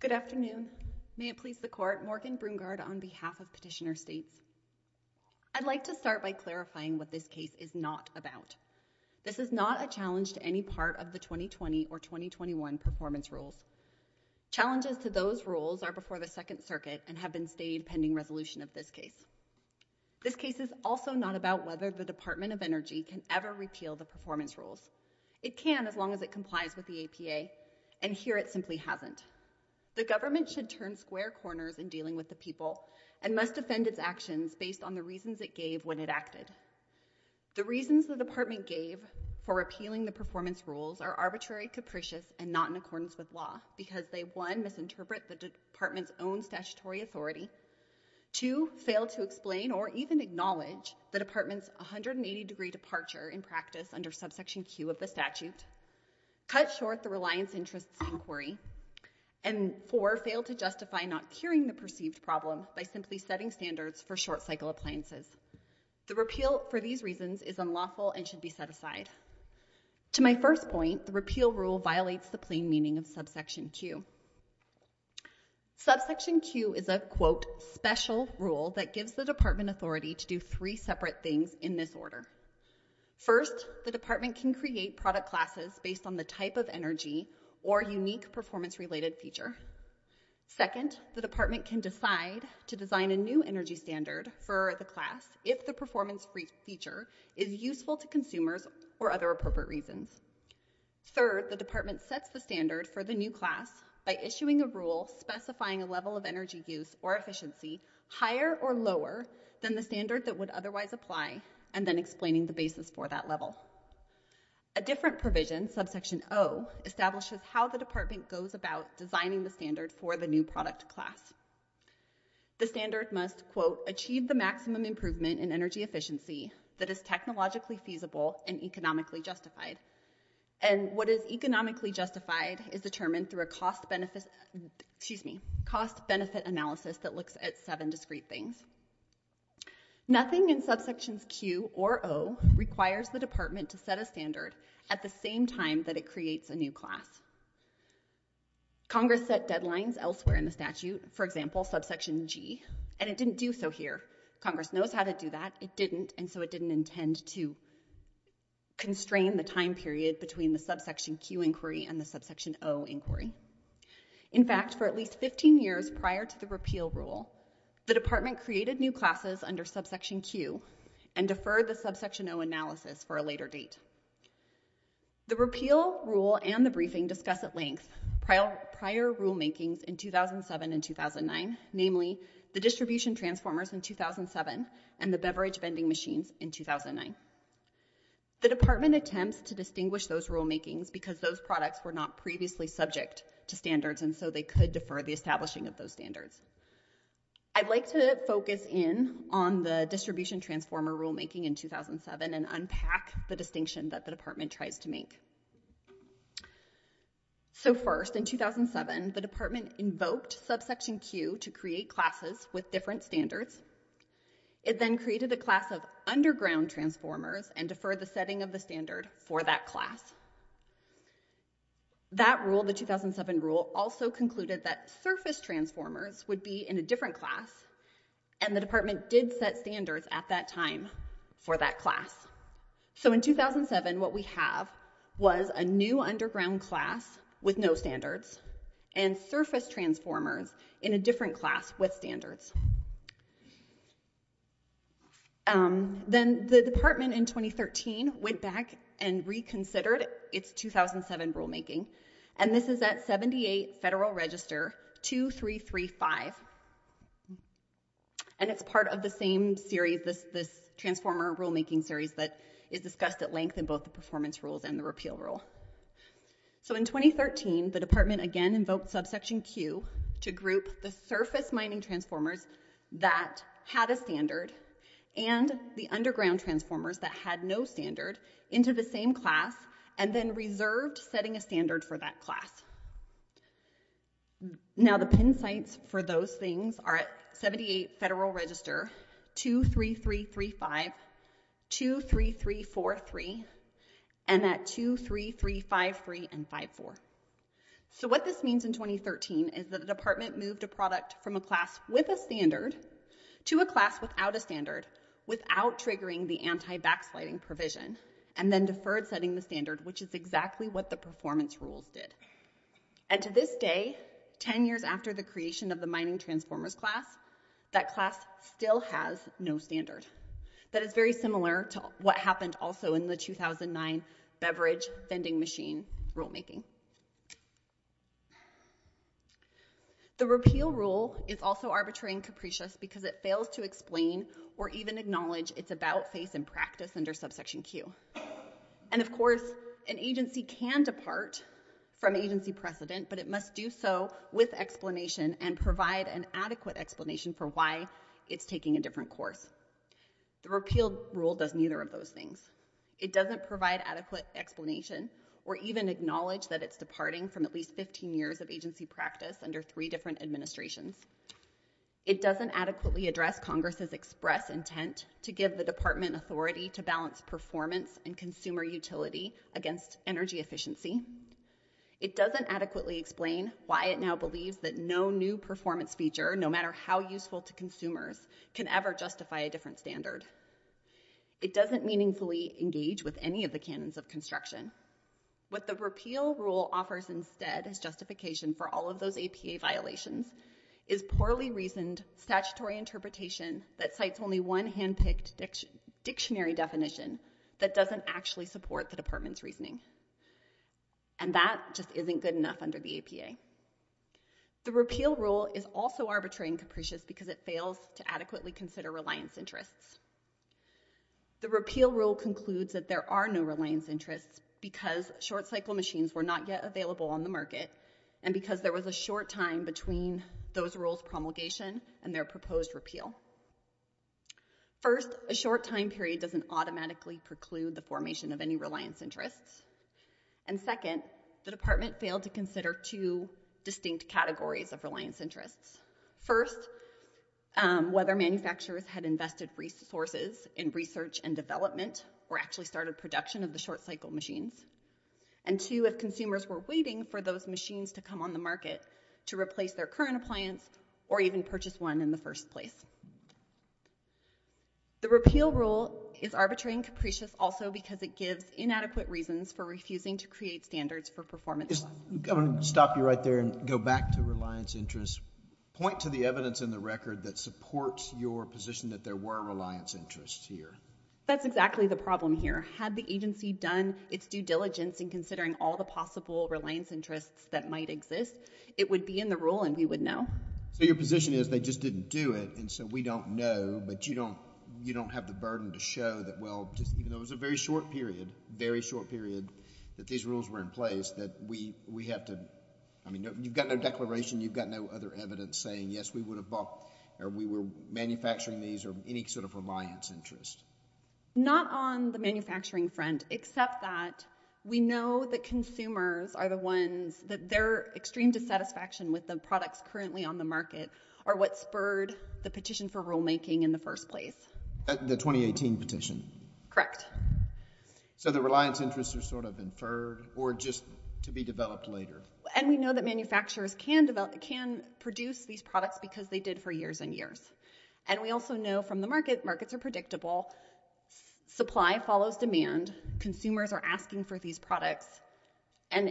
Good afternoon. May it please the court, Morgan Brungard on behalf of Petitioner States. I'd like to start by clarifying what this case is not about. This is not a challenge to any part of the 2020 or 2021 performance rules. Challenges to those rules are before the Second Circuit and have been stated pending resolution of this case. This case is also not about whether the Department of Energy can ever repeal the performance rules. It can as long as it complies with the APA, and here it simply hasn't. The government should turn square corners in dealing with the people and must defend its actions based on the reasons it gave when it acted. The reasons the department gave for repealing the performance rules are arbitrary, capricious, and not in accordance with law, because they, one, misinterpret the department's own statutory authority, two, fail to explain or even acknowledge the reliance interests inquiry, and four, fail to justify not curing the perceived problem by simply setting standards for short cycle appliances. The repeal for these reasons is unlawful and should be set aside. To my first point, the repeal rule violates the plain meaning of subsection Q. Subsection Q is a, quote, special rule that gives the department authority to do three separate things in this order. First, the department can create product classes based on the type of energy or unique performance related feature. Second, the department can decide to design a new energy standard for the class if the performance feature is useful to consumers or other appropriate reasons. Third, the department sets the standard for the new class by issuing a rule specifying a level of energy use or efficiency higher or lower than the standard that would otherwise apply and then explaining the basis for that level. A different provision, subsection O, establishes how the department goes about designing the standard for the new product class. The standard must, quote, achieve the maximum improvement in energy efficiency that is technologically feasible and economically justified. And what is economically justified is determined through a cost benefit, excuse me, cost benefit analysis that looks at seven discrete things. Nothing in subsections Q or O requires the department to set a standard at the same time that it creates a new class. Congress set deadlines elsewhere in the statute, for example, subsection G, and it didn't do so here. Congress knows how to do that. It didn't, and so it didn't intend to constrain the time period between the subsection Q inquiry and the subsection O inquiry. In fact, for at least 15 years prior to the repeal rule, the department created new classes under subsection Q and deferred the subsection O analysis for a later date. The repeal rule and the briefing discuss at length prior rulemakings in 2007 and 2009, namely the distribution transformers in 2007 and the beverage vending machines in 2009. The department attempts to distinguish those rulemakings because those products were not previously subject to standards and so they could defer the establishing of those standards. I'd like to focus in on the distribution transformer rulemaking in 2007 and unpack the distinction that the department tries to make. So first, in 2007, the department invoked subsection Q to create classes with different standards. It then created a class of underground transformers and deferred the rulemaking and concluded that surface transformers would be in a different class and the department did set standards at that time for that class. So in 2007, what we have was a new underground class with no standards and surface transformers in a different class with standards. Then the department in 2013 went back and reconsidered its 2007 rulemaking and this is at 78 Federal Register 2335 and it's part of the same series, this transformer rulemaking series that is discussed at length in both the performance rules and the repeal rule. So in 2013, the department again invoked subsection Q to group the surface mining transformers that had a standard and the underground transformers that had no standard into the same class and then reserved setting a standard for that class. Now the pin sites for those things are at 78 Federal Register 23335, 23343 and at 23353 and 54. So what this means in 2013 is that the department moved a product from a class with a standard to a class without a standard without triggering the anti-backsliding provision and then deferred setting the standard which is exactly what the performance rules did. And to this day, ten years after the creation of the mining transformers class, that class still has no standard. That is very similar to what happened also in the 2009 beverage vending machine rulemaking. The repeal rule is also arbitrary and capricious because it fails to explain or even acknowledge it's about face and practice under subsection Q. And of course, an agency can depart from agency precedent but it must do so with explanation and provide an adequate explanation for why it's taking a different course. The repeal rule does neither of those things. It doesn't provide adequate explanation or even acknowledge that it's departing from at least 15 years of agency practice under three different administrations. It doesn't adequately address Congress' express intent to give the department authority to balance performance and consumer utility against energy efficiency. It doesn't adequately explain why it now believes that no new performance feature, no matter how useful to consumers, can ever justify a different standard. It doesn't meaningfully engage with any of the canons of construction. What the repeal rule offers instead as justification for all of those APA violations is poorly reasoned statutory interpretation that cites only one handpicked dictionary definition that doesn't actually support the department's reasoning. And that just isn't good enough under the APA. The repeal rule is also arbitrary and capricious because it fails to adequately consider reliance interests. The repeal rule concludes that there are no reliance interests because short cycle machines were not yet available on the market and because there was a short time between those rules' promulgation and their proposed repeal. First, a short time period doesn't automatically preclude the formation of any reliance interests. And second, the department failed to consider two distinct categories of reliance interests. First, whether manufacturers had invested resources in research and development or actually started production of the short cycle machines. And two, if consumers were waiting for those machines to come on the market to replace their current appliance or even purchase one in the first place. The repeal rule is arbitrary and capricious also because it gives inadequate reasons for refusing to create standards for performance. I'm going to stop you right there and go back to reliance interests. Point to the evidence in the record that supports your position that there were reliance interests here. That's exactly the problem here. Had the agency done its due diligence in considering all the possible reliance interests that might exist, it would be in the rule and we would know. So your position is they just didn't do it and so we don't know, but you don't have the burden to show that, well, even though it was a very short period, very short period, that these rules were in place, that we have to, I mean, you've got no declaration, you've got no other evidence saying, yes, we would have bought or we were manufacturing these or any sort of reliance interest. Not on the manufacturing front, except that we know that consumers are the ones that their extreme dissatisfaction with the products currently on the market are what spurred the petition for rulemaking in the first place. The 2018 petition. Correct. So the reliance interests are sort of inferred or just to be developed later. And we know that manufacturers can develop, can produce these products because they did for years and years. And we also know from the market, markets are predictable, supply follows demand, consumers are asking for these products, and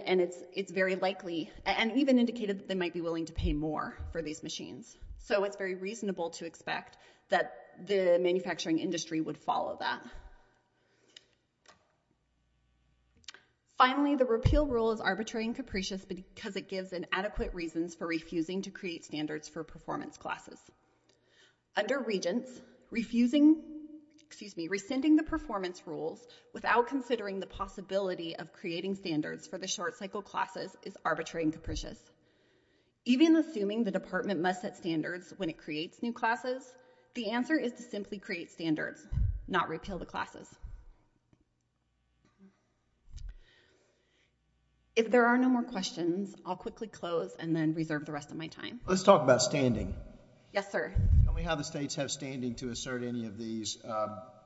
it's very likely, and even indicated that they might be willing to pay more for these machines. So it's very reasonable to expect that the manufacturing industry would follow that. Finally, the repeal rule is arbitrary and capricious because it gives an adequate reasons for refusing to create standards for performance classes. Under Regents, refusing, excuse me, rescinding the performance rules without considering the possibility of creating standards for the short cycle classes is arbitrary and capricious. Even assuming the department must set standards when it creates new classes, the answer is to simply create standards, not repeal the classes. If there are no more questions, I'll quickly close and then reserve the rest of my time. Let's talk about standing. Yes, sir. Tell me how the states have standing to assert any of these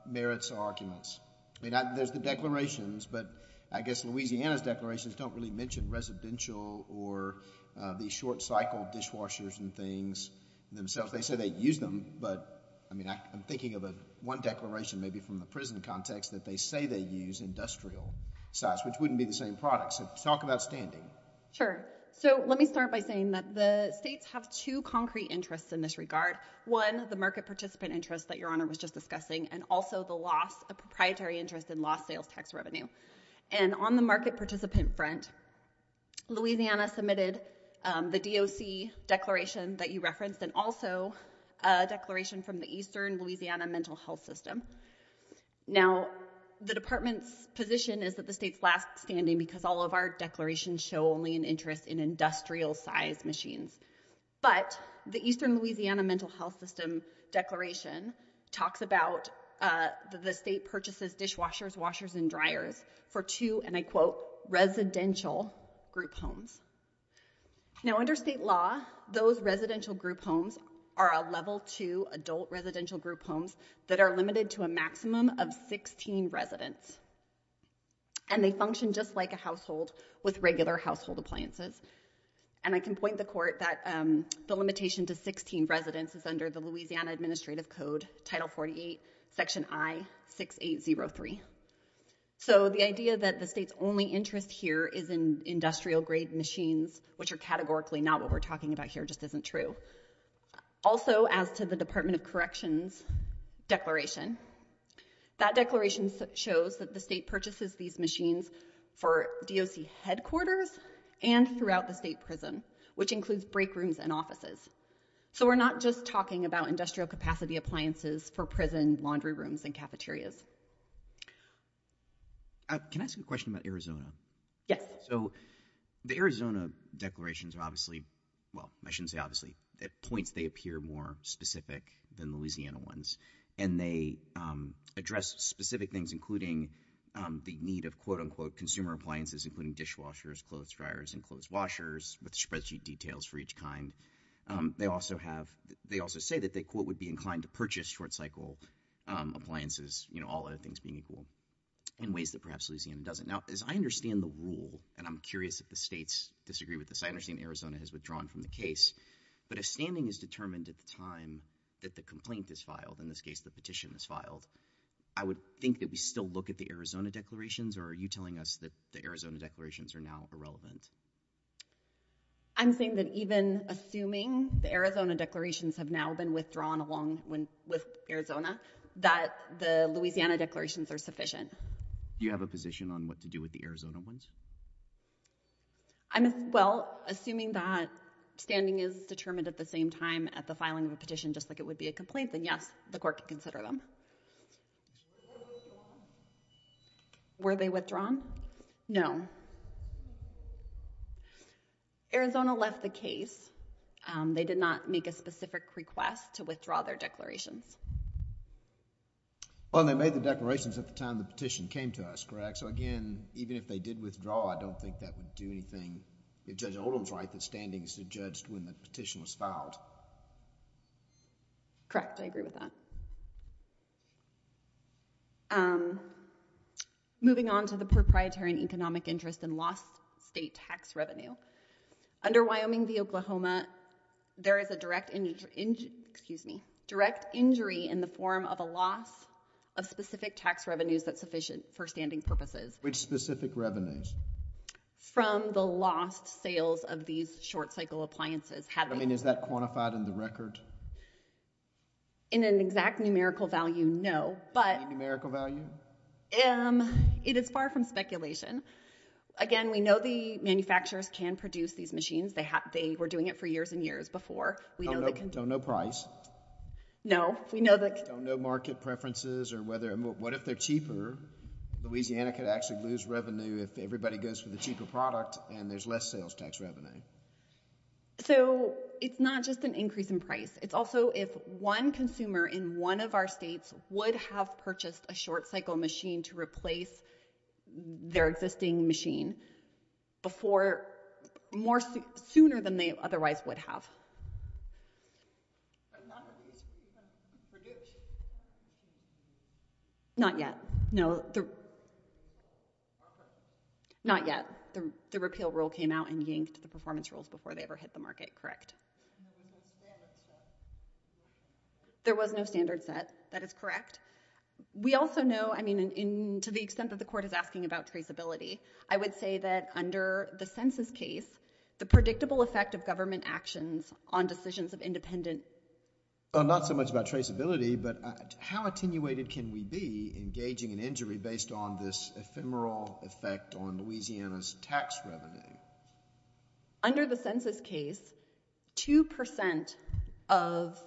merits or arguments. I mean, there's the declarations, but I guess Louisiana's declarations don't really mention residential or the short cycle dishwashers and things themselves. They say they use them, but I mean, I'm thinking of one declaration maybe from the prison context that they say they use industrial sites, which wouldn't be the same products. Talk about standing. Sure. So let me start by saying that the states have two concrete interests in this regard. One, the market participant interest that your honor was just discussing, and also the loss of proprietary interest in lost sales tax revenue. And on the market participant front, Louisiana submitted the DOC declaration that you referenced and also a declaration from the Eastern Louisiana Mental Health System. Now, the department's position is that the state's last standing because all of our declarations show only an interest in industrial size machines. But the Eastern Louisiana Mental Health System declaration talks about the state purchases dishwashers, washers, and dryers for two, and I quote, residential group homes. Now, under state law, those residential group homes are a level two adult residential group homes that are limited to a maximum of 16 residents. And they function just like a household with regular household appliances. And I can point the court that the limitation to 16 residents is under the Louisiana Administrative Code, Title 48, Section I-6803. So the idea that the state's only interest here is in industrial grade machines, which are categorically not what we're talking about here, just isn't true. Also, as to the Department of Corrections declaration, that declaration shows that the state purchases these machines for DOC headquarters and throughout the state prison, which includes break rooms and offices. So we're not just talking about industrial capacity appliances for prison laundry rooms and cafeterias. Can I ask a question about Arizona? Yes. So the Arizona declarations are obviously, well, I shouldn't say obviously, at points they appear more specific than Louisiana ones. And they address specific things, including the need of, quote, unquote, consumer appliances, including dishwashers, clothes dryers, and clothes washers, with spreadsheet details for each kind. They also have, they also say that they, quote, would be inclined to purchase short cycle appliances, you know, all other things being equal, in ways that perhaps Louisiana doesn't. Now, as I understand the rule, and I'm curious if the states disagree with this, I understand Arizona has withdrawn from the case, but if standing is determined at the time that the complaint is filed, in this case, the petition is filed, I would think that we still look at the Arizona declarations, or are you telling us that the Arizona declarations are now irrelevant? I'm saying that even assuming the Arizona declarations have now been withdrawn along with Arizona, that the Louisiana declarations are sufficient. Do you have a position on what to do with the Arizona ones? I'm, well, assuming that standing is determined at the same time at the filing of a petition, just like it would be a complaint, then yes, the court can consider them. Were they withdrawn? No. Arizona left the case. They did not make a specific request to withdraw their declarations. Well, and they made the declarations at the time the petition came to us, correct? So, again, even if they did withdraw, I don't think that would do anything, if Judge Oldham's right, that standing should be judged when the petition was filed. Correct. I agree with that. Moving on to the proprietary and economic interest and lost state tax revenue. Under Wyoming v. Oklahoma, there is a direct injury in the form of a loss of specific tax revenues that's sufficient for standing purposes. Which specific revenues? From the lost sales of these short-cycle appliances. I mean, is that quantified in the record? In an exact numerical value, no, but— Any numerical value? It is far from speculation. Again, we know the manufacturers can produce these machines. They were doing it for years and years before. We know the— Don't know price. No. We know the— Don't know market preferences or whether—what if they're cheaper? Louisiana could actually lose revenue if everybody goes for the cheaper product and there's less sales tax revenue. So, it's not just an increase in price. It's also if one consumer in one of our states would have purchased a short-cycle machine to replace their existing machine before—more—sooner than they otherwise would have. But none of these were produced? Not yet. No. Not yet. The repeal rule came out and yanked the performance rules before they ever hit the market, correct. And there was no standard set? There was no standard set. That is correct. We also know, I mean, to the extent that the court is asking about traceability, I would say that under the census case, the predictable effect of government actions on decisions of independent— Not so much about traceability, but how attenuated can we be in gauging an injury based on this ephemeral effect on Louisiana's tax revenue? Under the census case, 2% of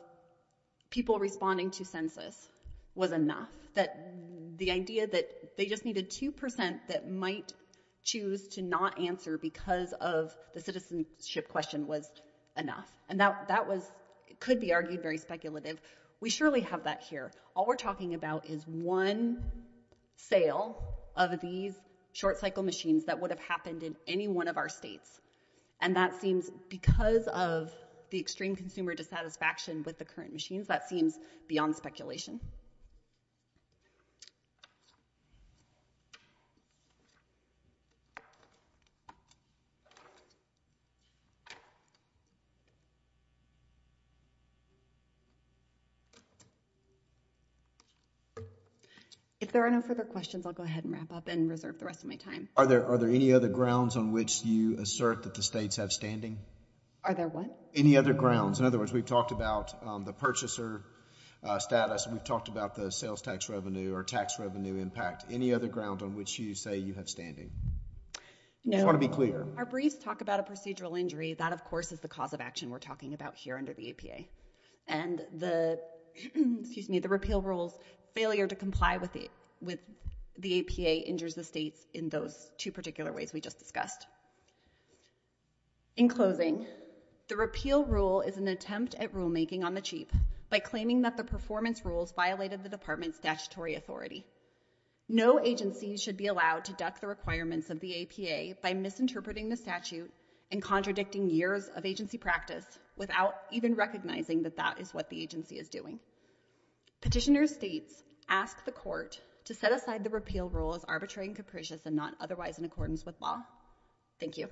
people responding to census was enough. That the idea that they just needed 2% that might choose to not answer because of the citizenship question was enough. And that was—it could be argued very speculative. We surely have that here. All we're talking about is one sale of these short-cycle machines that would have happened in any one of our states. And that seems, because of the extreme consumer dissatisfaction with the current machines, that seems beyond speculation. If there are no further questions, I'll go ahead and wrap up and reserve the rest of my time. Thank you. Are there any other grounds on which you assert that the states have standing? Are there what? Any other grounds. In other words, we've talked about the purchaser status. We've talked about the sales tax revenue or tax revenue impact. Any other ground on which you say you have standing? No. I just want to be clear. Our briefs talk about a procedural injury. That, of course, is the cause of action we're talking about here under the APA. And the—excuse me, the repeal rules, failure to comply with the APA injures the states in those two particular ways we just discussed. In closing, the repeal rule is an attempt at rulemaking on the cheap by claiming that the performance rules violated the department's statutory authority. No agency should be allowed to duck the requirements of the APA by misinterpreting the statute and contradicting years of agency practice without even recognizing that that is what the agency is doing. Petitioner states, ask the court to set aside the repeal rule as arbitrary and capricious and not otherwise in accordance with law. Thank you.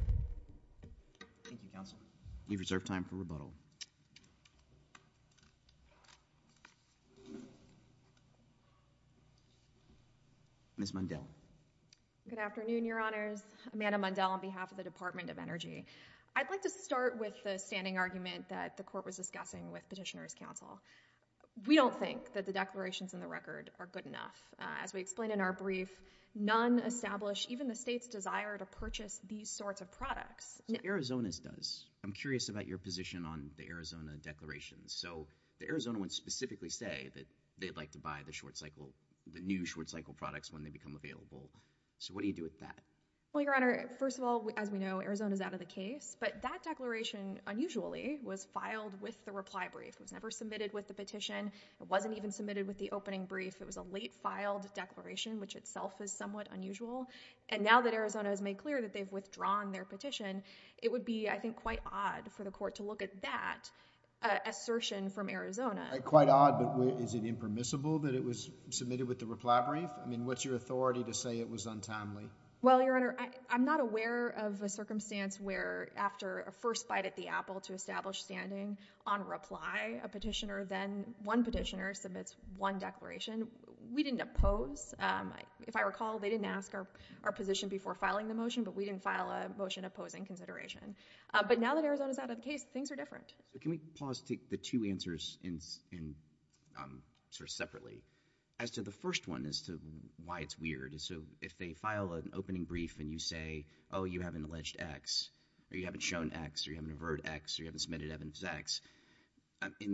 Thank you, counsel. We reserve time for rebuttal. Ms. Mundell. Good afternoon, your honors. Amanda Mundell on behalf of the Department of Energy. counsel. We don't think that the declarations in the record are good enough. As we explained in our brief, none establish even the state's desire to purchase these sorts of products. Arizona's does. I'm curious about your position on the Arizona declarations. So the Arizona would specifically say that they'd like to buy the short cycle—the new short cycle products when they become available. So what do you do with that? Well, your honor, first of all, as we know, Arizona's out of the case. But that declaration, unusually, was filed with the reply brief. It was never submitted with the petition. It wasn't even submitted with the opening brief. It was a late filed declaration, which itself is somewhat unusual. And now that Arizona has made clear that they've withdrawn their petition, it would be, I think, quite odd for the court to look at that assertion from Arizona. Quite odd, but is it impermissible that it was submitted with the reply brief? I mean, what's your authority to say it was untimely? Well, your honor, I'm not aware of a circumstance where after a first bite at the reply, a petitioner then—one petitioner submits one declaration. We didn't oppose. If I recall, they didn't ask our position before filing the motion, but we didn't file a motion opposing consideration. But now that Arizona's out of the case, things are different. So can we pause to take the two answers separately? As to the first one, as to why it's weird. So if they file an opening brief and you say, oh, you have an alleged X, or you haven't shown X, or you haven't averred X, or you haven't submitted evidence as X,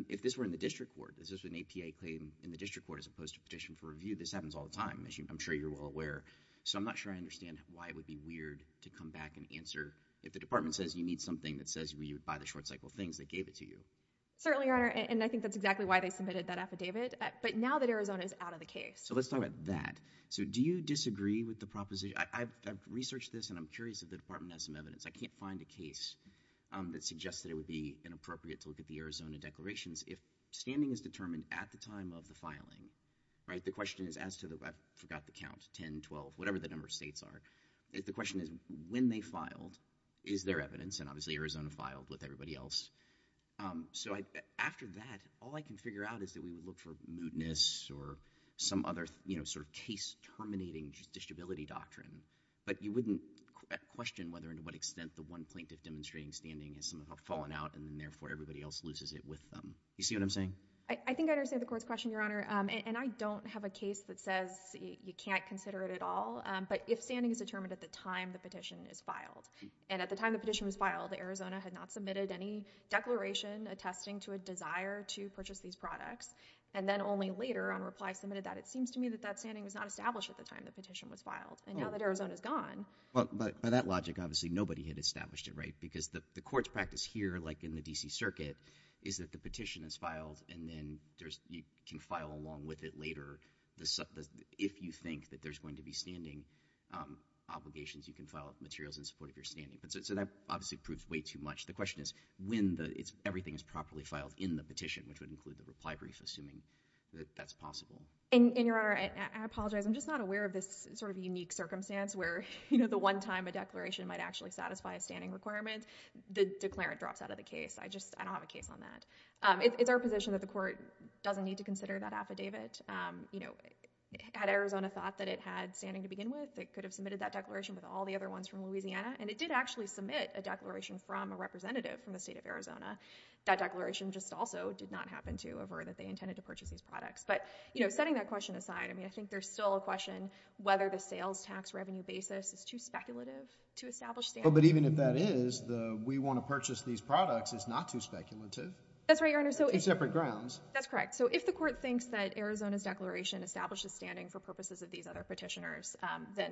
if this were in the district court, if this was an APA claim in the district court as opposed to a petition for review, this happens all the time, as I'm sure you're well aware. So I'm not sure I understand why it would be weird to come back and answer—if the department says you need something that says you would buy the short cycle of things, they gave it to you. Certainly, your honor. And I think that's exactly why they submitted that affidavit. But now that Arizona's out of the case— So let's talk about that. So do you disagree with the proposition? I've researched this, and I'm curious if the department has some evidence. I can't find a case that suggests that it would be inappropriate to look at the Arizona declarations if standing is determined at the time of the filing. Right? The question is, as to the—I forgot the count—10, 12, whatever the number of states are. The question is, when they filed, is there evidence? And obviously, Arizona filed with everybody else. So after that, all I can figure out is that we would look for mootness or some other sort of case-terminating disability doctrine. But you wouldn't question whether and to what extent the one plaintiff demonstrating standing has somehow fallen out, and therefore everybody else loses it with them. You see what I'm saying? I think I understand the court's question, your honor. And I don't have a case that says you can't consider it at all. But if standing is determined at the time the petition is filed—and at the time the petition was filed, Arizona had not submitted any declaration attesting to a desire to purchase these products. And then only later, on reply, submitted that. It seems to me that that standing was not established at the time the petition was filed. And now that Arizona's gone— Well, by that logic, obviously, nobody had established it, right? Because the court's practice here, like in the D.C. Circuit, is that the petition is filed, and then you can file along with it later if you think that there's going to be standing obligations, you can file materials in support of your standing. So that obviously proves way too much. The question is, when everything is properly filed in the petition, which would include the reply brief, assuming that that's possible. And, Your Honor, I apologize. I'm just not aware of this sort of unique circumstance where, you know, the one time a declaration might actually satisfy a standing requirement, the declarant drops out of the case. I just, I don't have a case on that. It's our position that the court doesn't need to consider that affidavit. You know, had Arizona thought that it had standing to begin with, it could have submitted that declaration with all the other ones from Louisiana. And it did actually submit a declaration from a representative from the state of Arizona. That declaration just also did not happen to avert that they intended to purchase these So setting that question aside, I mean, I think there's still a question whether the sales tax revenue basis is too speculative to establish standing. But even if that is, the we want to purchase these products is not too speculative. That's right, Your Honor. Two separate grounds. That's correct. So if the court thinks that Arizona's declaration establishes standing for purposes of these other petitioners, then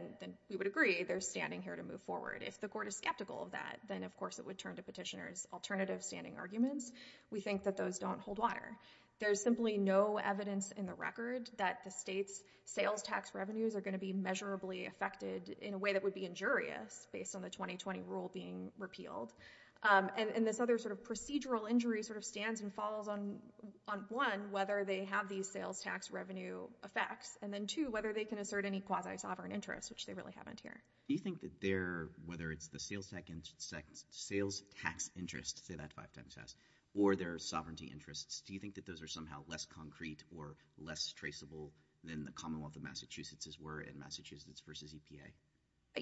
we would agree they're standing here to move forward. If the court is skeptical of that, then of course it would turn to petitioners' alternative standing arguments. We think that those don't hold water. There's simply no evidence in the record that the state's sales tax revenues are going to be measurably affected in a way that would be injurious based on the 2020 rule being repealed. And this other sort of procedural injury sort of stands and falls on one, whether they have these sales tax revenue effects, and then two, whether they can assert any quasi-sovereign interest, which they really haven't here. Do you think that they're, whether it's the sales tax interest, say that five times a year, or their sovereignty interests, do you think that those are somehow less concrete or less traceable than the Commonwealth of Massachusetts' were in Massachusetts v. EPA?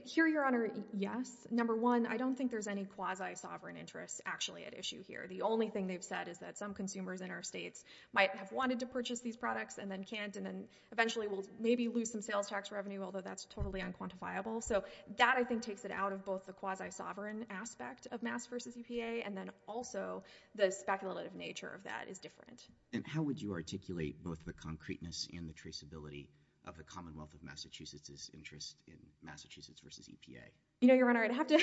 Here, Your Honor, yes. Number one, I don't think there's any quasi-sovereign interest actually at issue here. The only thing they've said is that some consumers in our states might have wanted to purchase these products and then can't, and then eventually will maybe lose some sales tax revenue, although that's totally unquantifiable. So that, I think, takes it out of both the quasi-sovereign aspect of Mass v. EPA and then also the speculative nature of that is different. And how would you articulate both the concreteness and the traceability of the Commonwealth of Massachusetts' interest in Massachusetts v. EPA? You know, Your Honor, I'd have to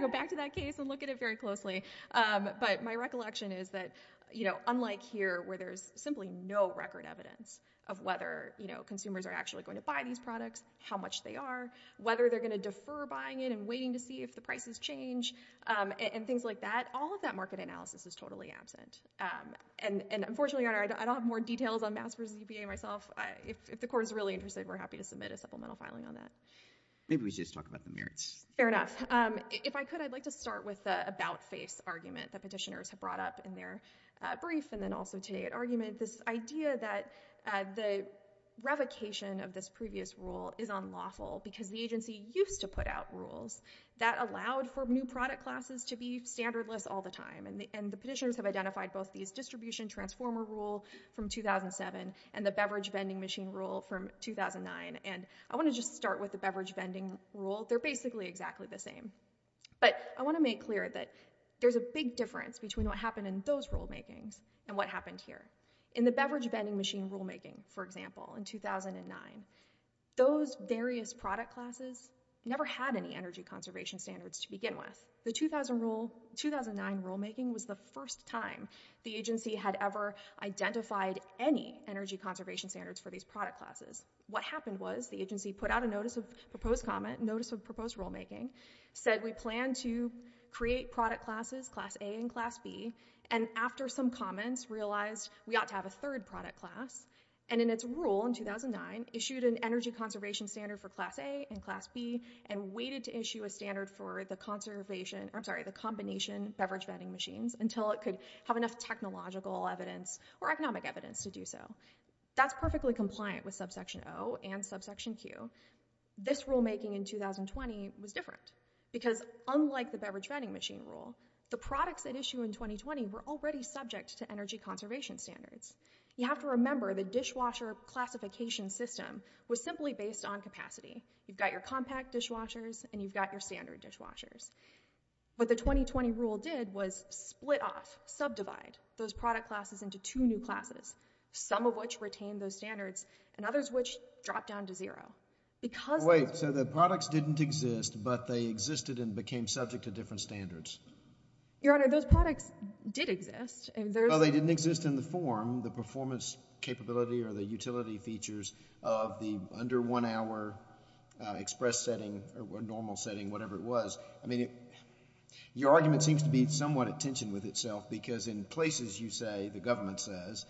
go back to that case and look at it very closely. But my recollection is that, you know, unlike here, where there's simply no record evidence of whether, you know, consumers are actually going to buy these products, how much they are, whether they're going to defer buying it and waiting to see if the prices change and things like that, all of that market analysis is totally absent. And, unfortunately, Your Honor, I don't have more details on Mass v. EPA myself. If the Court is really interested, we're happy to submit a supplemental filing on that. Maybe we should just talk about the merits. Fair enough. If I could, I'd like to start with the about-face argument that petitioners have brought up in their brief and then also today at argument, this idea that the revocation of this previous rule is unlawful because the agency used to put out rules that allowed for new product classes to be standardless all the time. And the petitioners have identified both these distribution transformer rule from 2007 and the beverage vending machine rule from 2009. And I want to just start with the beverage vending rule. They're basically exactly the same. But I want to make clear that there's a big difference between what happened in those rulemakings and what happened here. In the beverage vending machine rulemaking, for example, in 2009, those various product classes never had any energy conservation standards to begin with. The 2009 rulemaking was the first time the agency had ever identified any energy conservation standards for these product classes. What happened was the agency put out a notice of proposed comment, notice of proposed rulemaking, said we plan to create product classes, Class A and Class B, and after some comments realized we ought to have a third product class, and in its rule in 2009, issued an energy conservation standard for Class A and Class B and waited to issue a standard for the conservation, I'm sorry, the combination beverage vending machines until it could have enough technological evidence or economic evidence to do so. That's perfectly compliant with subsection O and subsection Q. This rulemaking in 2020 was different because unlike the beverage vending machine rule, the products at issue in 2020 were already subject to energy conservation standards. You have to remember the dishwasher classification system was simply based on capacity. You've got your compact dishwashers and you've got your standard dishwashers. What the 2020 rule did was split off, subdivide, those product classes into two new classes, some of which retained those standards and others which dropped down to zero. Wait, so the products didn't exist but they existed and became subject to different standards? Your Honor, those products did exist. Well, they didn't exist in the form, the performance capability or the utility features of the under one hour express setting or normal setting, whatever it was. Your argument seems to be somewhat at tension with itself because in places you say, the government says,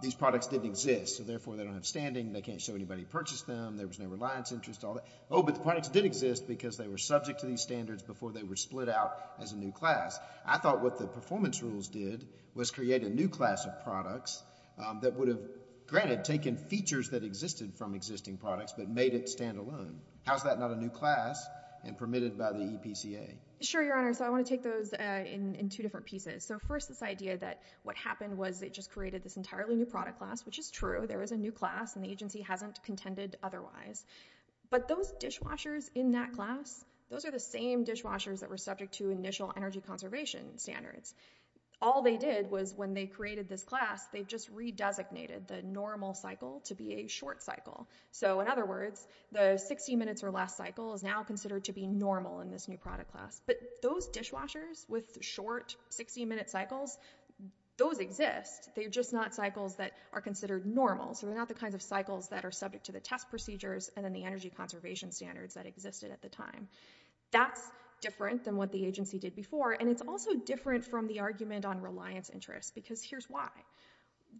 these products didn't exist, so therefore they don't have standing, they can't show anybody purchased them, there was no reliance interest, all that. Oh, but the products did exist because they were subject to these standards before they were split out as a new class. I thought what the performance rules did was create a new class of products that would have, granted, taken features that existed from existing products but made it standalone. How's that not a new class and permitted by the EPCA? Sure, Your Honor, so I want to take those in two different pieces. So first, this idea that what happened was they just created this entirely new product class, which is true, there was a new class and the agency hasn't contended otherwise. But those dishwashers in that class, those are the same dishwashers that were subject to initial energy conservation standards. All they did was when they created this class, they just re-designated the normal cycle to be a short cycle. So in other words, the 60 minutes or less cycle is now considered to be normal in this new product class. But those dishwashers with short 60-minute cycles, those exist. They're just not cycles that are considered normal. So they're not the kinds of cycles that are subject to the test procedures and then the energy conservation standards that existed at the time. That's different than what the agency did before and it's also different from the argument on reliance interest because here's why.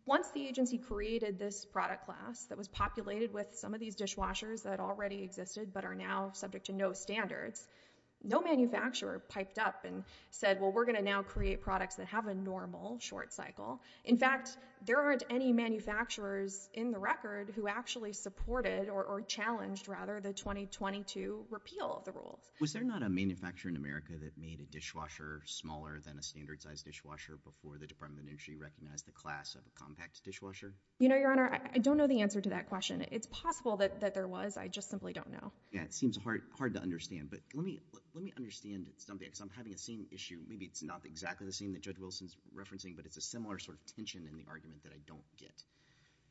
Once the agency created this product class that was populated with some of these dishwashers that already existed but are now subject to no standards, no manufacturer piped up and said, well, we're going to now create products that have a normal short cycle. In fact, there aren't any manufacturers in the record who actually supported or challenged rather the 2020 to repeal the rules. Was there not a manufacturer in America that made a dishwasher smaller than a standard size dishwasher before the Department of Energy recognized the class of a compact dishwasher? Your Honor, I don't know the answer to that question. It's possible that there was, I just simply don't know. It seems hard to understand but let me understand something because I'm having the same issue. Maybe it's not exactly the same that Judge Wilson's referencing but it's a similar sort of tension in the argument that I don't get.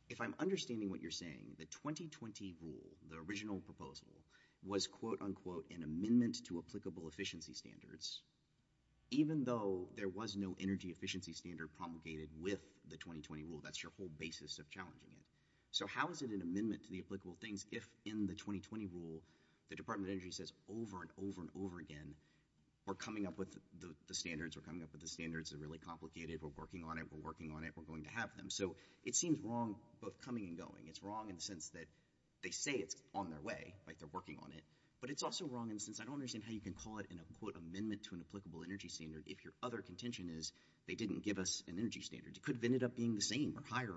If I'm understanding what you're saying, the 2020 rule, the original proposal was, quote, unquote, an amendment to applicable efficiency standards even though there was no energy efficiency standard promulgated with the 2020 rule. That's your whole basis of challenging it. So how is it an amendment to the applicable things if in the 2020 rule the Department of Energy says over and over and over again, we're coming up with the standards, we're coming up with the standards, they're really complicated, we're working on it, we're working on it, we're going to have them. So it seems wrong both coming and going. It's wrong in the sense that they say it's on their way, they're working on it, but it's also wrong in the sense I don't understand how you can call it an amendment to an applicable energy standard if your other contention is they didn't give us an energy standard. It could have ended up being the same or higher.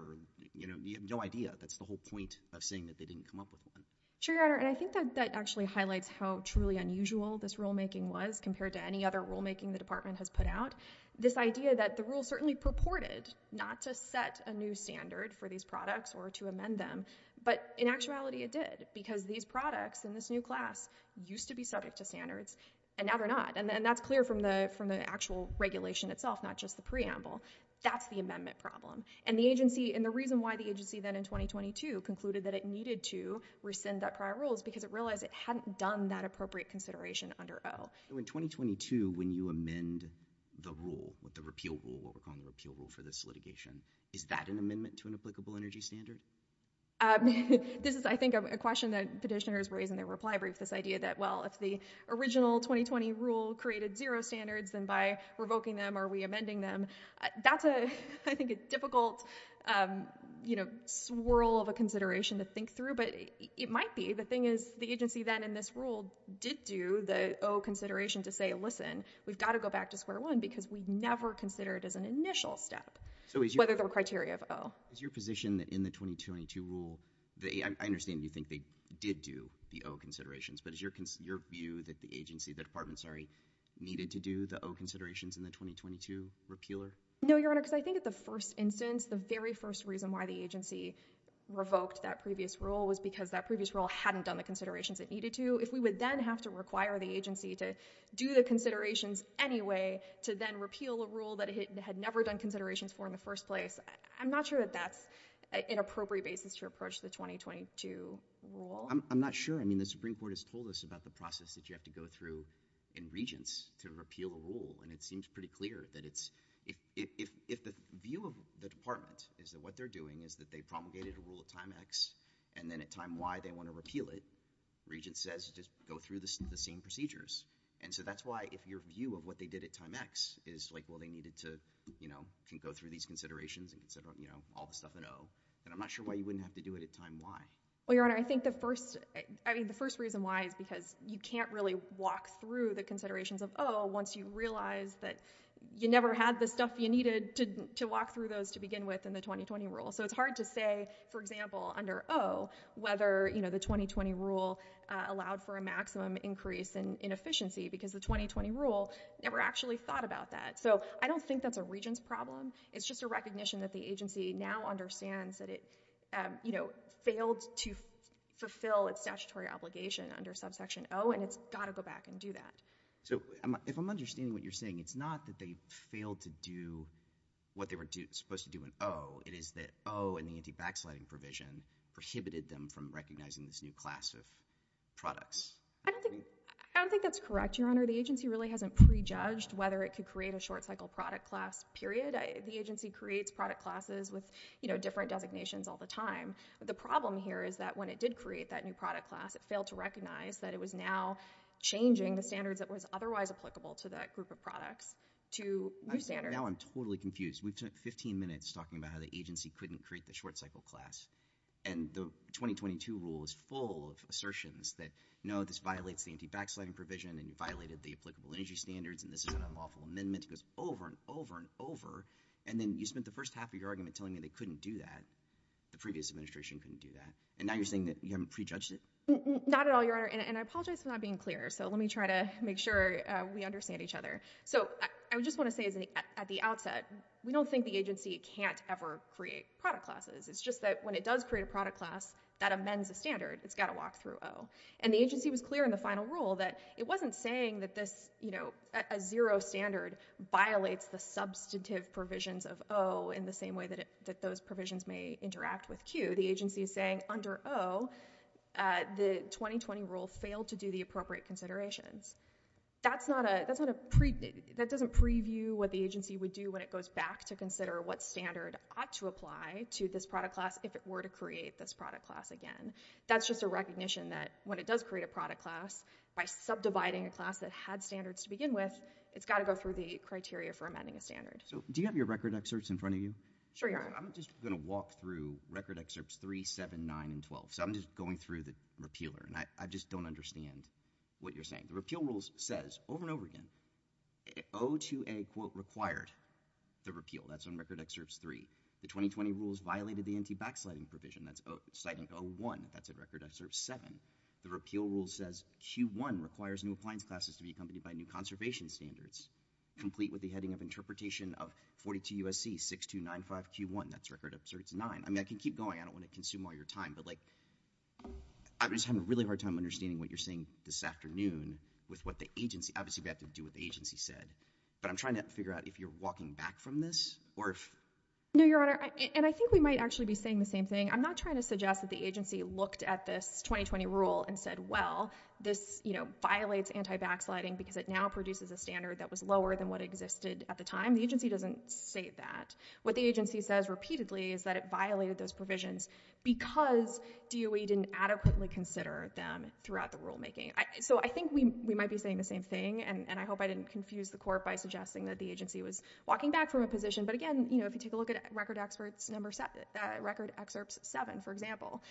You have no idea. That's the whole point of saying that they didn't come up with one. Sure, Your Honor, and I think that actually highlights how truly unusual this rulemaking was compared to any other rulemaking the Department has put out. This idea that the rule certainly purported not to set a new standard for these products or to amend them, but in actuality it did because these products in this new class used to be subject to standards and now they're not. And that's clear from the actual regulation itself, not just the preamble. That's the amendment problem. And the reason why the agency then in 2022 concluded that it needed to rescind that prior rule is because it realized it hadn't done that appropriate consideration under O. In 2022, when you amend the rule, the repeal rule, what we're calling the repeal rule for this litigation, is that an amendment to an applicable energy standard? This is, I think, a question that petitioners raise in their reply brief, this idea that, well, if the original 2020 rule created zero standards, then by revoking them are we amending them? That's, I think, a difficult swirl of a consideration to think through, but it might be. The thing is the agency then in this rule did do the O consideration to say, listen, we've got to go back to square one because we never considered it as an initial step, whether there were criteria of O. Is your position that in the 2022 rule, I understand you think they did do the O considerations, but is your view that the agency, the department, sorry, needed to do the O considerations in the 2022 repealer? No, Your Honor, because I think at the first instance, the very first reason why the agency revoked that previous rule was because that previous rule hadn't done the considerations it needed to. If we would then have to require the agency to do the considerations anyway to then repeal a rule that it had never done considerations for in the first place, I'm not sure that that's an appropriate basis to approach the 2022 rule. I'm not sure. I mean, the Supreme Court has told us about the process that you have to go through in Regents to repeal a rule, and it seems pretty clear that it's, if the view of the department is that what they're doing is that they promulgated a rule at time X and then at time Y they want to repeal it, Regents says, just go through the same procedures. And so that's why if your view of what they did at time X is like, well, they needed to, you know, can go through these considerations and all the stuff at O, then I'm not sure why you wouldn't have to do it at time Y. Well, Your Honor, I think the first, I mean, the first reason why is because you can't really walk through the considerations of O once you realize that you never had the stuff you needed to walk through those to begin with in the 2020 rule. So it's hard to say, for example, under O, whether, you know, the 2020 rule allowed for a maximum increase in efficiency, because the 2020 rule never actually thought about that. So I don't think that's a Regents problem. It's just a recognition that the agency now understands that it, you know, failed to fulfill its statutory obligation under subsection O, and it's gotta go back and do that. So if I'm understanding what you're saying, it's not that they failed to do what they were supposed to do in O. It is that O and the anti-backsliding provision prohibited them from recognizing this new class of products. I don't think, I don't think that's correct, Your Honor. The agency really hasn't pre-judged whether it could create a short-cycle product class, period. The agency creates product classes with, you know, different designations all the time. The problem here is that when it did create that new product class, it failed to recognize that it was now changing the standards that was otherwise applicable to that group of products to new standards. Now I'm totally confused. We took 15 minutes talking about how the agency couldn't create the short-cycle class, and the 2022 rule is full of assertions that, no, this violates the anti-backsliding provision, and you violated the applicable energy standards, and this is an unlawful amendment. It goes over and over and over, and then you spent the first half of your argument telling me they couldn't do that. The previous administration couldn't do that. And now you're saying that you haven't pre-judged it? Not at all, Your Honor, and I apologize for not being clear, so let me try to make sure we understand each other. So I just want to say at the outset, we don't think the agency can't ever create product classes. It's just that when it does create a product class that amends a standard, it's got to walk through O. And the agency was clear in the final rule that it wasn't saying that this, you know, a zero standard violates the substantive provisions of O in the same way that those provisions may interact with Q. The agency is saying, under O, the 2020 rule failed to do the appropriate considerations. That doesn't preview what the agency would do when it goes back to consider what standard ought to apply to this product class if it were to create this product class again. That's just a recognition that when it does create a product class by subdividing a class that had standards to begin with, it's got to go through the criteria for amending a standard. Do you have your record excerpts in front of you? Sure, Your Honor. I'm just going to walk through record excerpts 3, 7, 9, and 12. So I'm just going through the repealer, and I The repeal rules says, over and over again, O2A, quote, required the repeal. That's in record excerpts 3. The 2020 rules violated the anti-backsliding provision. That's citing O1. That's in record excerpts 7. The repeal rule says Q1 requires new appliance classes to be accompanied by new conservation standards complete with the heading of interpretation of 42 U.S.C. 6295Q1. That's record excerpts 9. I mean, I can keep going. I don't want to consume all your time, but like, I'm just having a really hard time understanding what you're saying this afternoon with what the agency, obviously we have to do what the agency said, but I'm trying to figure out if you're walking back from this, or if No, Your Honor, and I think we might actually be saying the same thing. I'm not trying to suggest that the agency looked at this 2020 rule and said, well, this, you know, violates anti-backsliding because it now produces a standard that was lower than what existed at the time. The agency doesn't state that. What the agency says repeatedly is that it violated those provisions because DOE didn't adequately consider them throughout the rulemaking. So I think we might be saying the same thing, and I hope I didn't confuse the court by suggesting that the agency was walking back from a position, but again, you know, if you take a look at record excerpts 7, for example,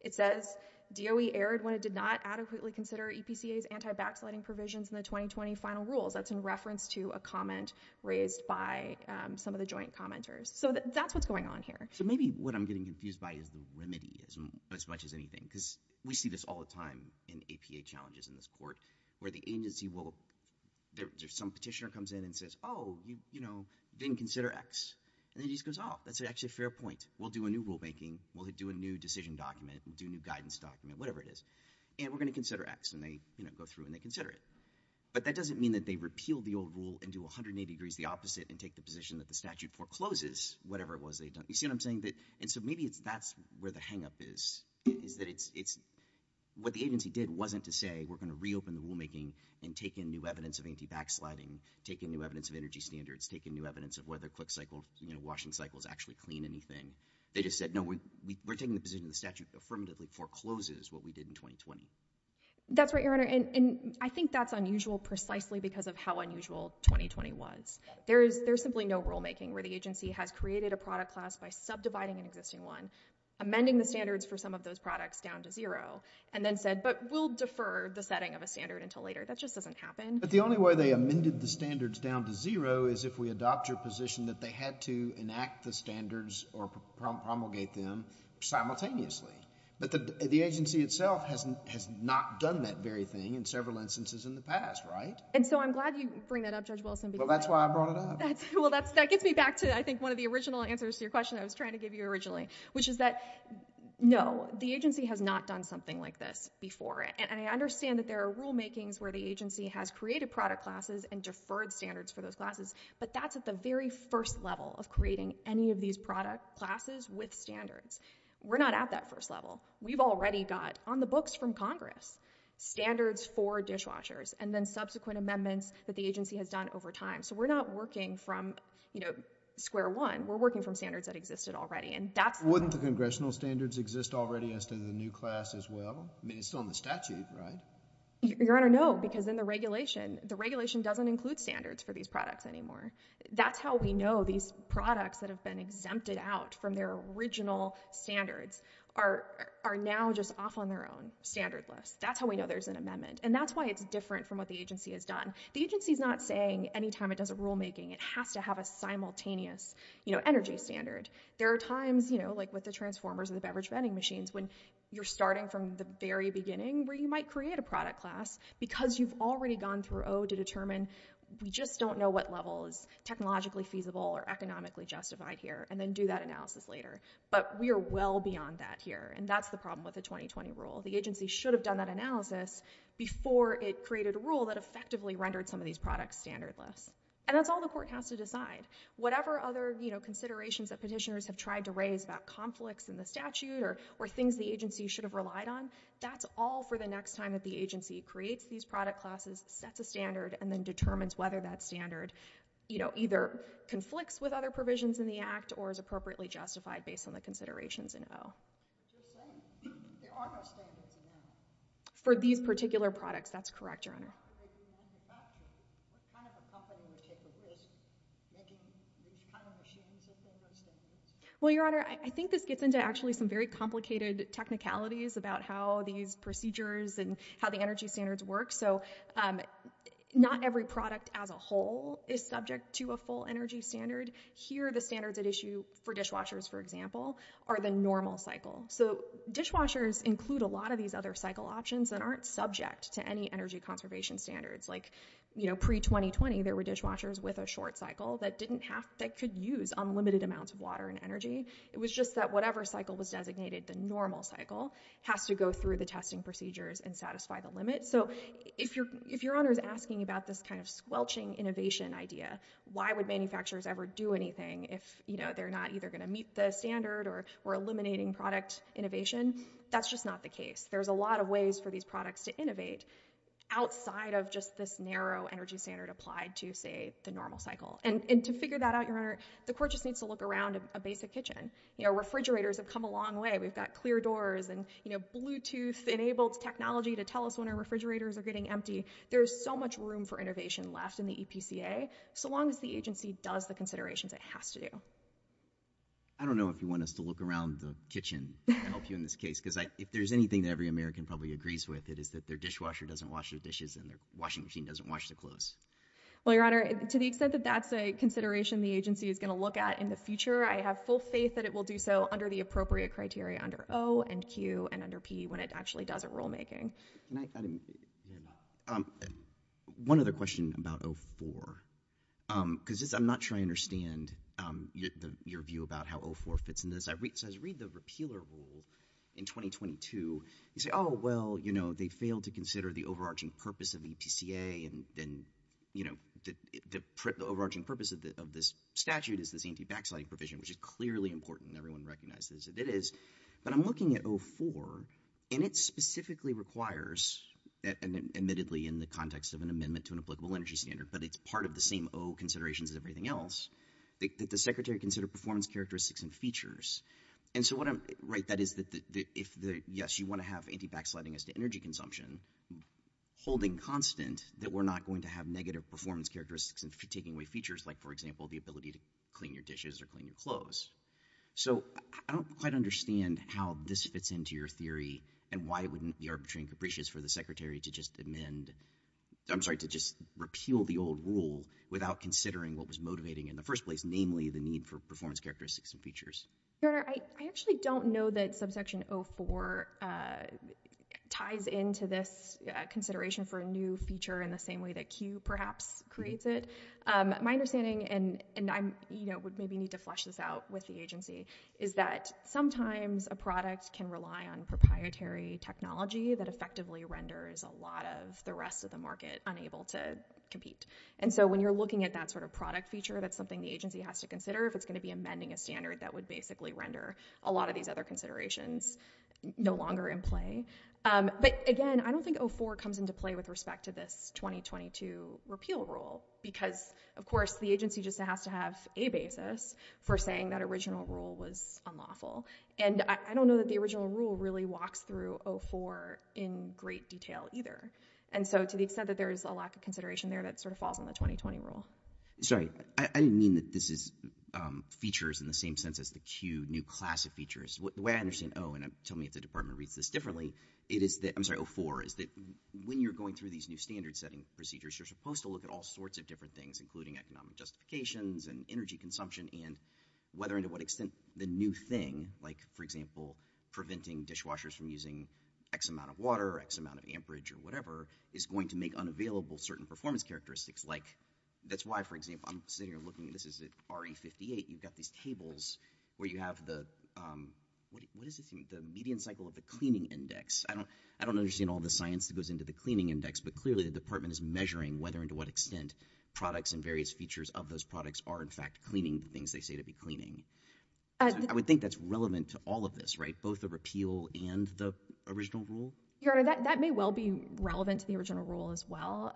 it says DOE erred when it did not adequately consider EPCA's anti-backsliding provisions in the 2020 final rules. That's in reference to a comment raised by some of the joint commenters. So that's what's going on here. So maybe what I'm getting confused by is the remedy as much as anything, because we see this all the time in APA challenges in this court, where the agency will there's some petitioner comes in and says, oh, you know, didn't consider X. And then he just goes, oh, that's actually a fair point. We'll do a new rulemaking. We'll do a new decision document. We'll do a new guidance document, whatever it is. And we're going to consider X. And they, you know, go through and they consider it. But that doesn't mean that they repeal the old rule and do 180 degrees the opposite and take the position that the statute forecloses whatever it was they had done. You see what I'm saying? And so maybe that's where the hangup is. What the agency did wasn't to say we're going to reopen the rulemaking and take in new evidence of anti-backsliding, take in new evidence of energy standards, take in new evidence of whether washing cycles actually clean anything. They just said, no, we're taking the position the statute affirmatively forecloses what we did in 2020. That's right, Your Honor. And I think that's unusual precisely because of how unusual 2020 was. There's simply no rulemaking where the agency has created a product class by subdividing an existing one, amending the standards for some of those products down to zero, and then said, but we'll defer the setting of a standard until later. That just doesn't happen. But the only way they amended the standards down to zero is if we adopt your position that they had to enact the standards or promulgate them simultaneously. But the agency itself has not done that very thing in several instances in the past, right? And so I'm glad you bring that up, Judge Wilson. Well, that's why I brought it up. That gets me back to, I think, one of the original answers to your question I was trying to give you originally, which is that, no, the agency has not done something like this before. And I understand that there are rulemakings where the agency has created product classes and deferred standards for those classes, but that's at the very first level of creating any of these product classes with standards. We're not at that first level. We've already got, on the books from Congress, standards for dishwashers and then subsequent amendments that the agency has done over time. So we're not working from, you know, square one. We're working from standards that existed already. Wouldn't the congressional standards exist already as to the new class as well? I mean, it's still in the statute, right? Your Honor, no, because in the regulation, the regulation doesn't include standards for these products anymore. That's how we know these products that have been exempted out from their original standards are now just off on their own, standardless. That's how we know there's an amendment. And that's why it's different from what the agency has done. The agency's not saying any time it does a rulemaking, it has to have a simultaneous, you know, energy standard. There are times, you know, like with the transformers or the beverage vending machines when you're starting from the very beginning where you might create a product class because you've already gone through O to determine, we just don't know what level is technologically feasible or economically justified here, and then do that analysis later. But we are well beyond that here, and that's the problem with the 2020 rule. The agency should have done that analysis before it created a rule that effectively rendered some of these products standardless. And that's all the court has to decide. Whatever other, you know, considerations that petitioners have tried to raise about conflicts in the statute or things the agency should have relied on, that's all for the next time that the agency creates these product classes, sets a standard, and then determines whether that standard either conflicts with other provisions in the Act or is appropriately justified based on the considerations in O. Just saying, there are no standards for these particular products, that's correct, Your Honor. What kind of a company would take a risk making these kind of machines if they were standardless? Well, Your Honor, I think this gets into actually some very complicated technicalities about how these procedures and how the energy standards work, so not every product as a whole is subject to a full energy standard. Here, the standards at issue for dishwashers, for example, are the normal cycle. So dishwashers include a lot of these other cycle options and aren't subject to any energy conservation standards, like pre-2020, there were dishwashers with a short cycle that could use unlimited amounts of water and energy. It was just that whatever cycle was designated the normal cycle has to go through the testing procedures and satisfy the limit. So if Your Honor is asking about this kind of squelching innovation idea, why would manufacturers ever do anything if they're not either going to meet the standard or eliminating product innovation? That's just not the case. There's a lot of ways for these products to innovate outside of just this narrow energy standard applied to, say, the normal cycle. And to figure that out, Your Honor, the court just needs to look around a basic kitchen. You know, refrigerators have come a long way. We've got clear doors and Bluetooth-enabled technology to tell us when our refrigerators are getting empty. There's so much room for innovation left in the EPCA, so long as the agency does the considerations it has to do. I don't know if you want us to look around the kitchen and help you in this case, because if there's anything that every American probably agrees with, it is that their dishwasher doesn't wash their dishes and their washing machine doesn't wash their clothes. Well, Your Honor, to the extent that that's a consideration the agency is going to look at in the future, I have full faith that it will do so under the appropriate criteria under O and Q and under P when it actually does it rulemaking. One other question about 04, because I'm not sure I understand your view about how 04 fits in this. I read the repealer rule in 2022. You say, oh, well, you know, they failed to consider the overarching purpose of the EPCA and, you know, the overarching purpose of this statute is this anti-vaccinating provision, which is clearly important. Everyone recognizes that it is. But I'm looking at 04 and it specifically requires admittedly in the context of an amendment to an applicable energy standard, but it's part of the same O considerations as everything else, that the secretary consider performance characteristics and features. And so what I'm, right, that is that if the, yes, you want to have anti-vaccinating as to energy consumption holding constant that we're not going to have negative performance characteristics and taking away features like, for example, the ability to clean your dishes or clean your clothes. So I don't quite understand how this fits into your theory and why it wouldn't be arbitrary and capricious for the secretary to just amend, I'm sorry, to just repeal the old rule without considering what was motivating in the first place, namely the need for performance characteristics and features. Your Honor, I actually don't know that subsection 04 ties into this consideration for a new feature in the same way that Q perhaps creates it. My understanding, and I'm, you know, would maybe need to flush this out with the agency, is that sometimes a product can rely on proprietary technology that effectively renders a lot of the rest of the market unable to compete. And so when you're looking at that sort of product feature, that's something the agency has to consider if it's going to be amending a standard that would basically render a lot of these other considerations no longer in play. But again, I don't think 04 comes into play with respect to this 2022 repeal rule because, of course, the agency just has to have a basis for saying that original rule was unlawful. And I don't know that the original rule really walks through 04 in great detail either. And so to the extent that there's a lack of consideration there, that sort of falls on the 2020 rule. Sorry, I didn't mean that this is features in the same sense as the Q new class of features. The way I understand 04, and tell me if the department reads this differently, it is that, I'm sorry, 04, is that when you're going through these new standard setting procedures, you're supposed to look at all sorts of different things, including economic justifications and energy consumption and whether and to what extent the new thing, like, for example, preventing dishwashers from using X amount of water or X amount of amperage or whatever, is going to make unavailable certain performance characteristics. Like, that's why, for example, I'm sitting here looking, this is RE58, you've got these tables where you have the, what is this, the median cycle of the cleaning index. I don't understand all the science that goes into the cleaning index, but clearly the department is measuring whether and to what extent products and various features of those products are in fact cleaning the things they say to be cleaning. I would think that's relevant to all of this, right, both the repeal and the original rule? Your Honor, that may well be relevant to the original rule as well.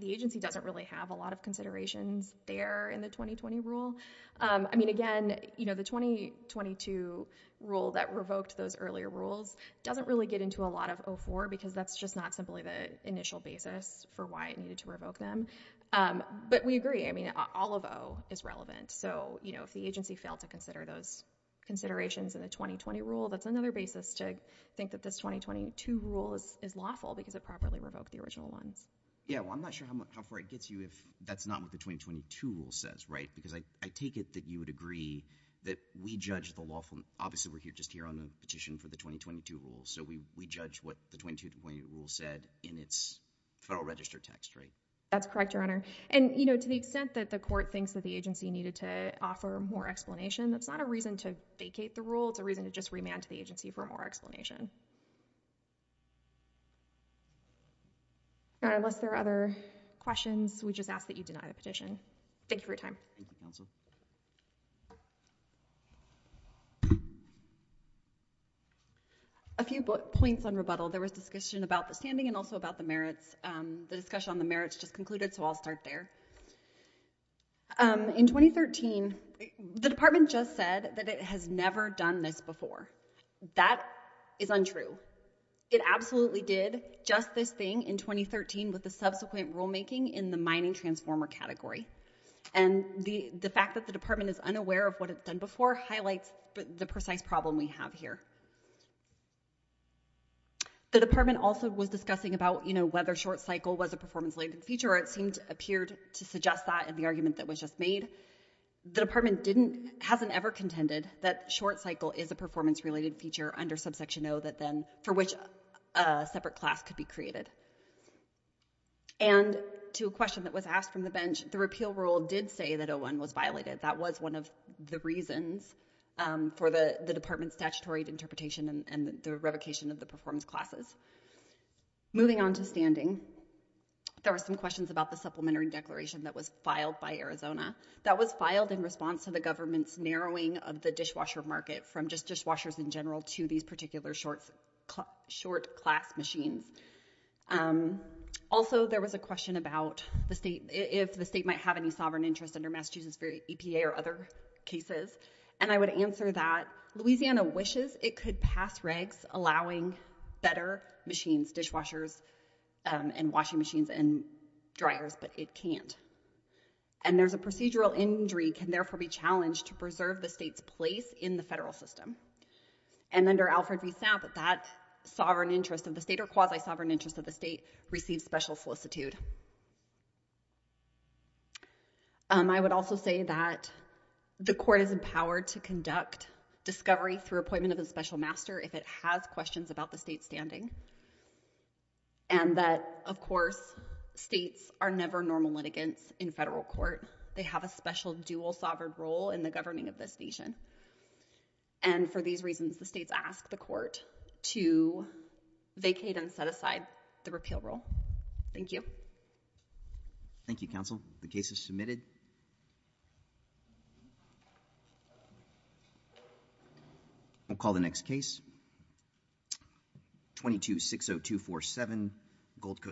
The agency doesn't really have a lot of considerations there in the 2020 rule. I mean, again, you know, the 2022 rule that revoked those earlier rules doesn't really get into a lot of 04 because that's just not simply the initial basis for why it needed to revoke them. But we agree, I mean, all of 0 is not to consider those considerations in the 2020 rule. That's another basis to think that this 2022 rule is lawful because it properly revoked the original ones. Yeah, well, I'm not sure how far it gets you if that's not what the 2022 rule says, right? Because I take it that you would agree that we judge the lawful, obviously we're just here on the petition for the 2022 rule, so we judge what the 2022 rule said in its Federal Register text, right? That's correct, Your Honor. And, you know, to the extent that the court thinks that the agency needed to offer more explanation, that's not a reason to vacate the rule, it's a reason to just remand to the agency for more explanation. All right, unless there are other questions, we just ask that you deny the petition. Thank you for your time. A few points on rebuttal. There was discussion about the standing and also about the merits. The discussion on the merits just concluded, so I'll start there. In 2013, the Department just said that it has never done this before. That is untrue. It absolutely did just this thing in 2013 with the subsequent rulemaking in the mining transformer category. And the fact that the Department is unaware of what it's done before highlights the precise problem we have here. The Department also was discussing about, you know, whether short cycle was a performance-related feature or it appeared to suggest that in the argument that was just made. The Department hasn't ever contended that short cycle is a performance-related feature under subsection O for which a separate class could be created. And to a question that was asked from the bench, the repeal rule did say that O-1 was violated. That was one of the Department's statutory interpretation and the revocation of the performance classes. Moving on to standing, there were some questions about the supplementary declaration that was filed by Arizona. That was filed in response to the government's narrowing of the dishwasher market from just dishwashers in general to these particular short class machines. Also, there was a question about if the state might have any sovereign interest under Massachusetts EPA or other cases and I would answer that Louisiana wishes it could pass regs allowing better machines, dishwashers and washing machines and dryers but it can't. And there's a procedural injury can therefore be challenged to preserve the state's place in the federal system. And under Alfred v. Sapp, that sovereign interest of the state or quasi-sovereign interest of the state receives special solicitude. I would also say that the court is empowered to conduct discovery through appointment of a special master if it has questions about the state's standing and that of course states are never normal litigants in federal court. They have a special dual sovereign role in the governing of this nation and for these reasons the states ask the court to vacate and set aside the repeal role. Thank you. Thank you counsel. The case is submitted. I'll call the next case. 22-60247 Gold Coast.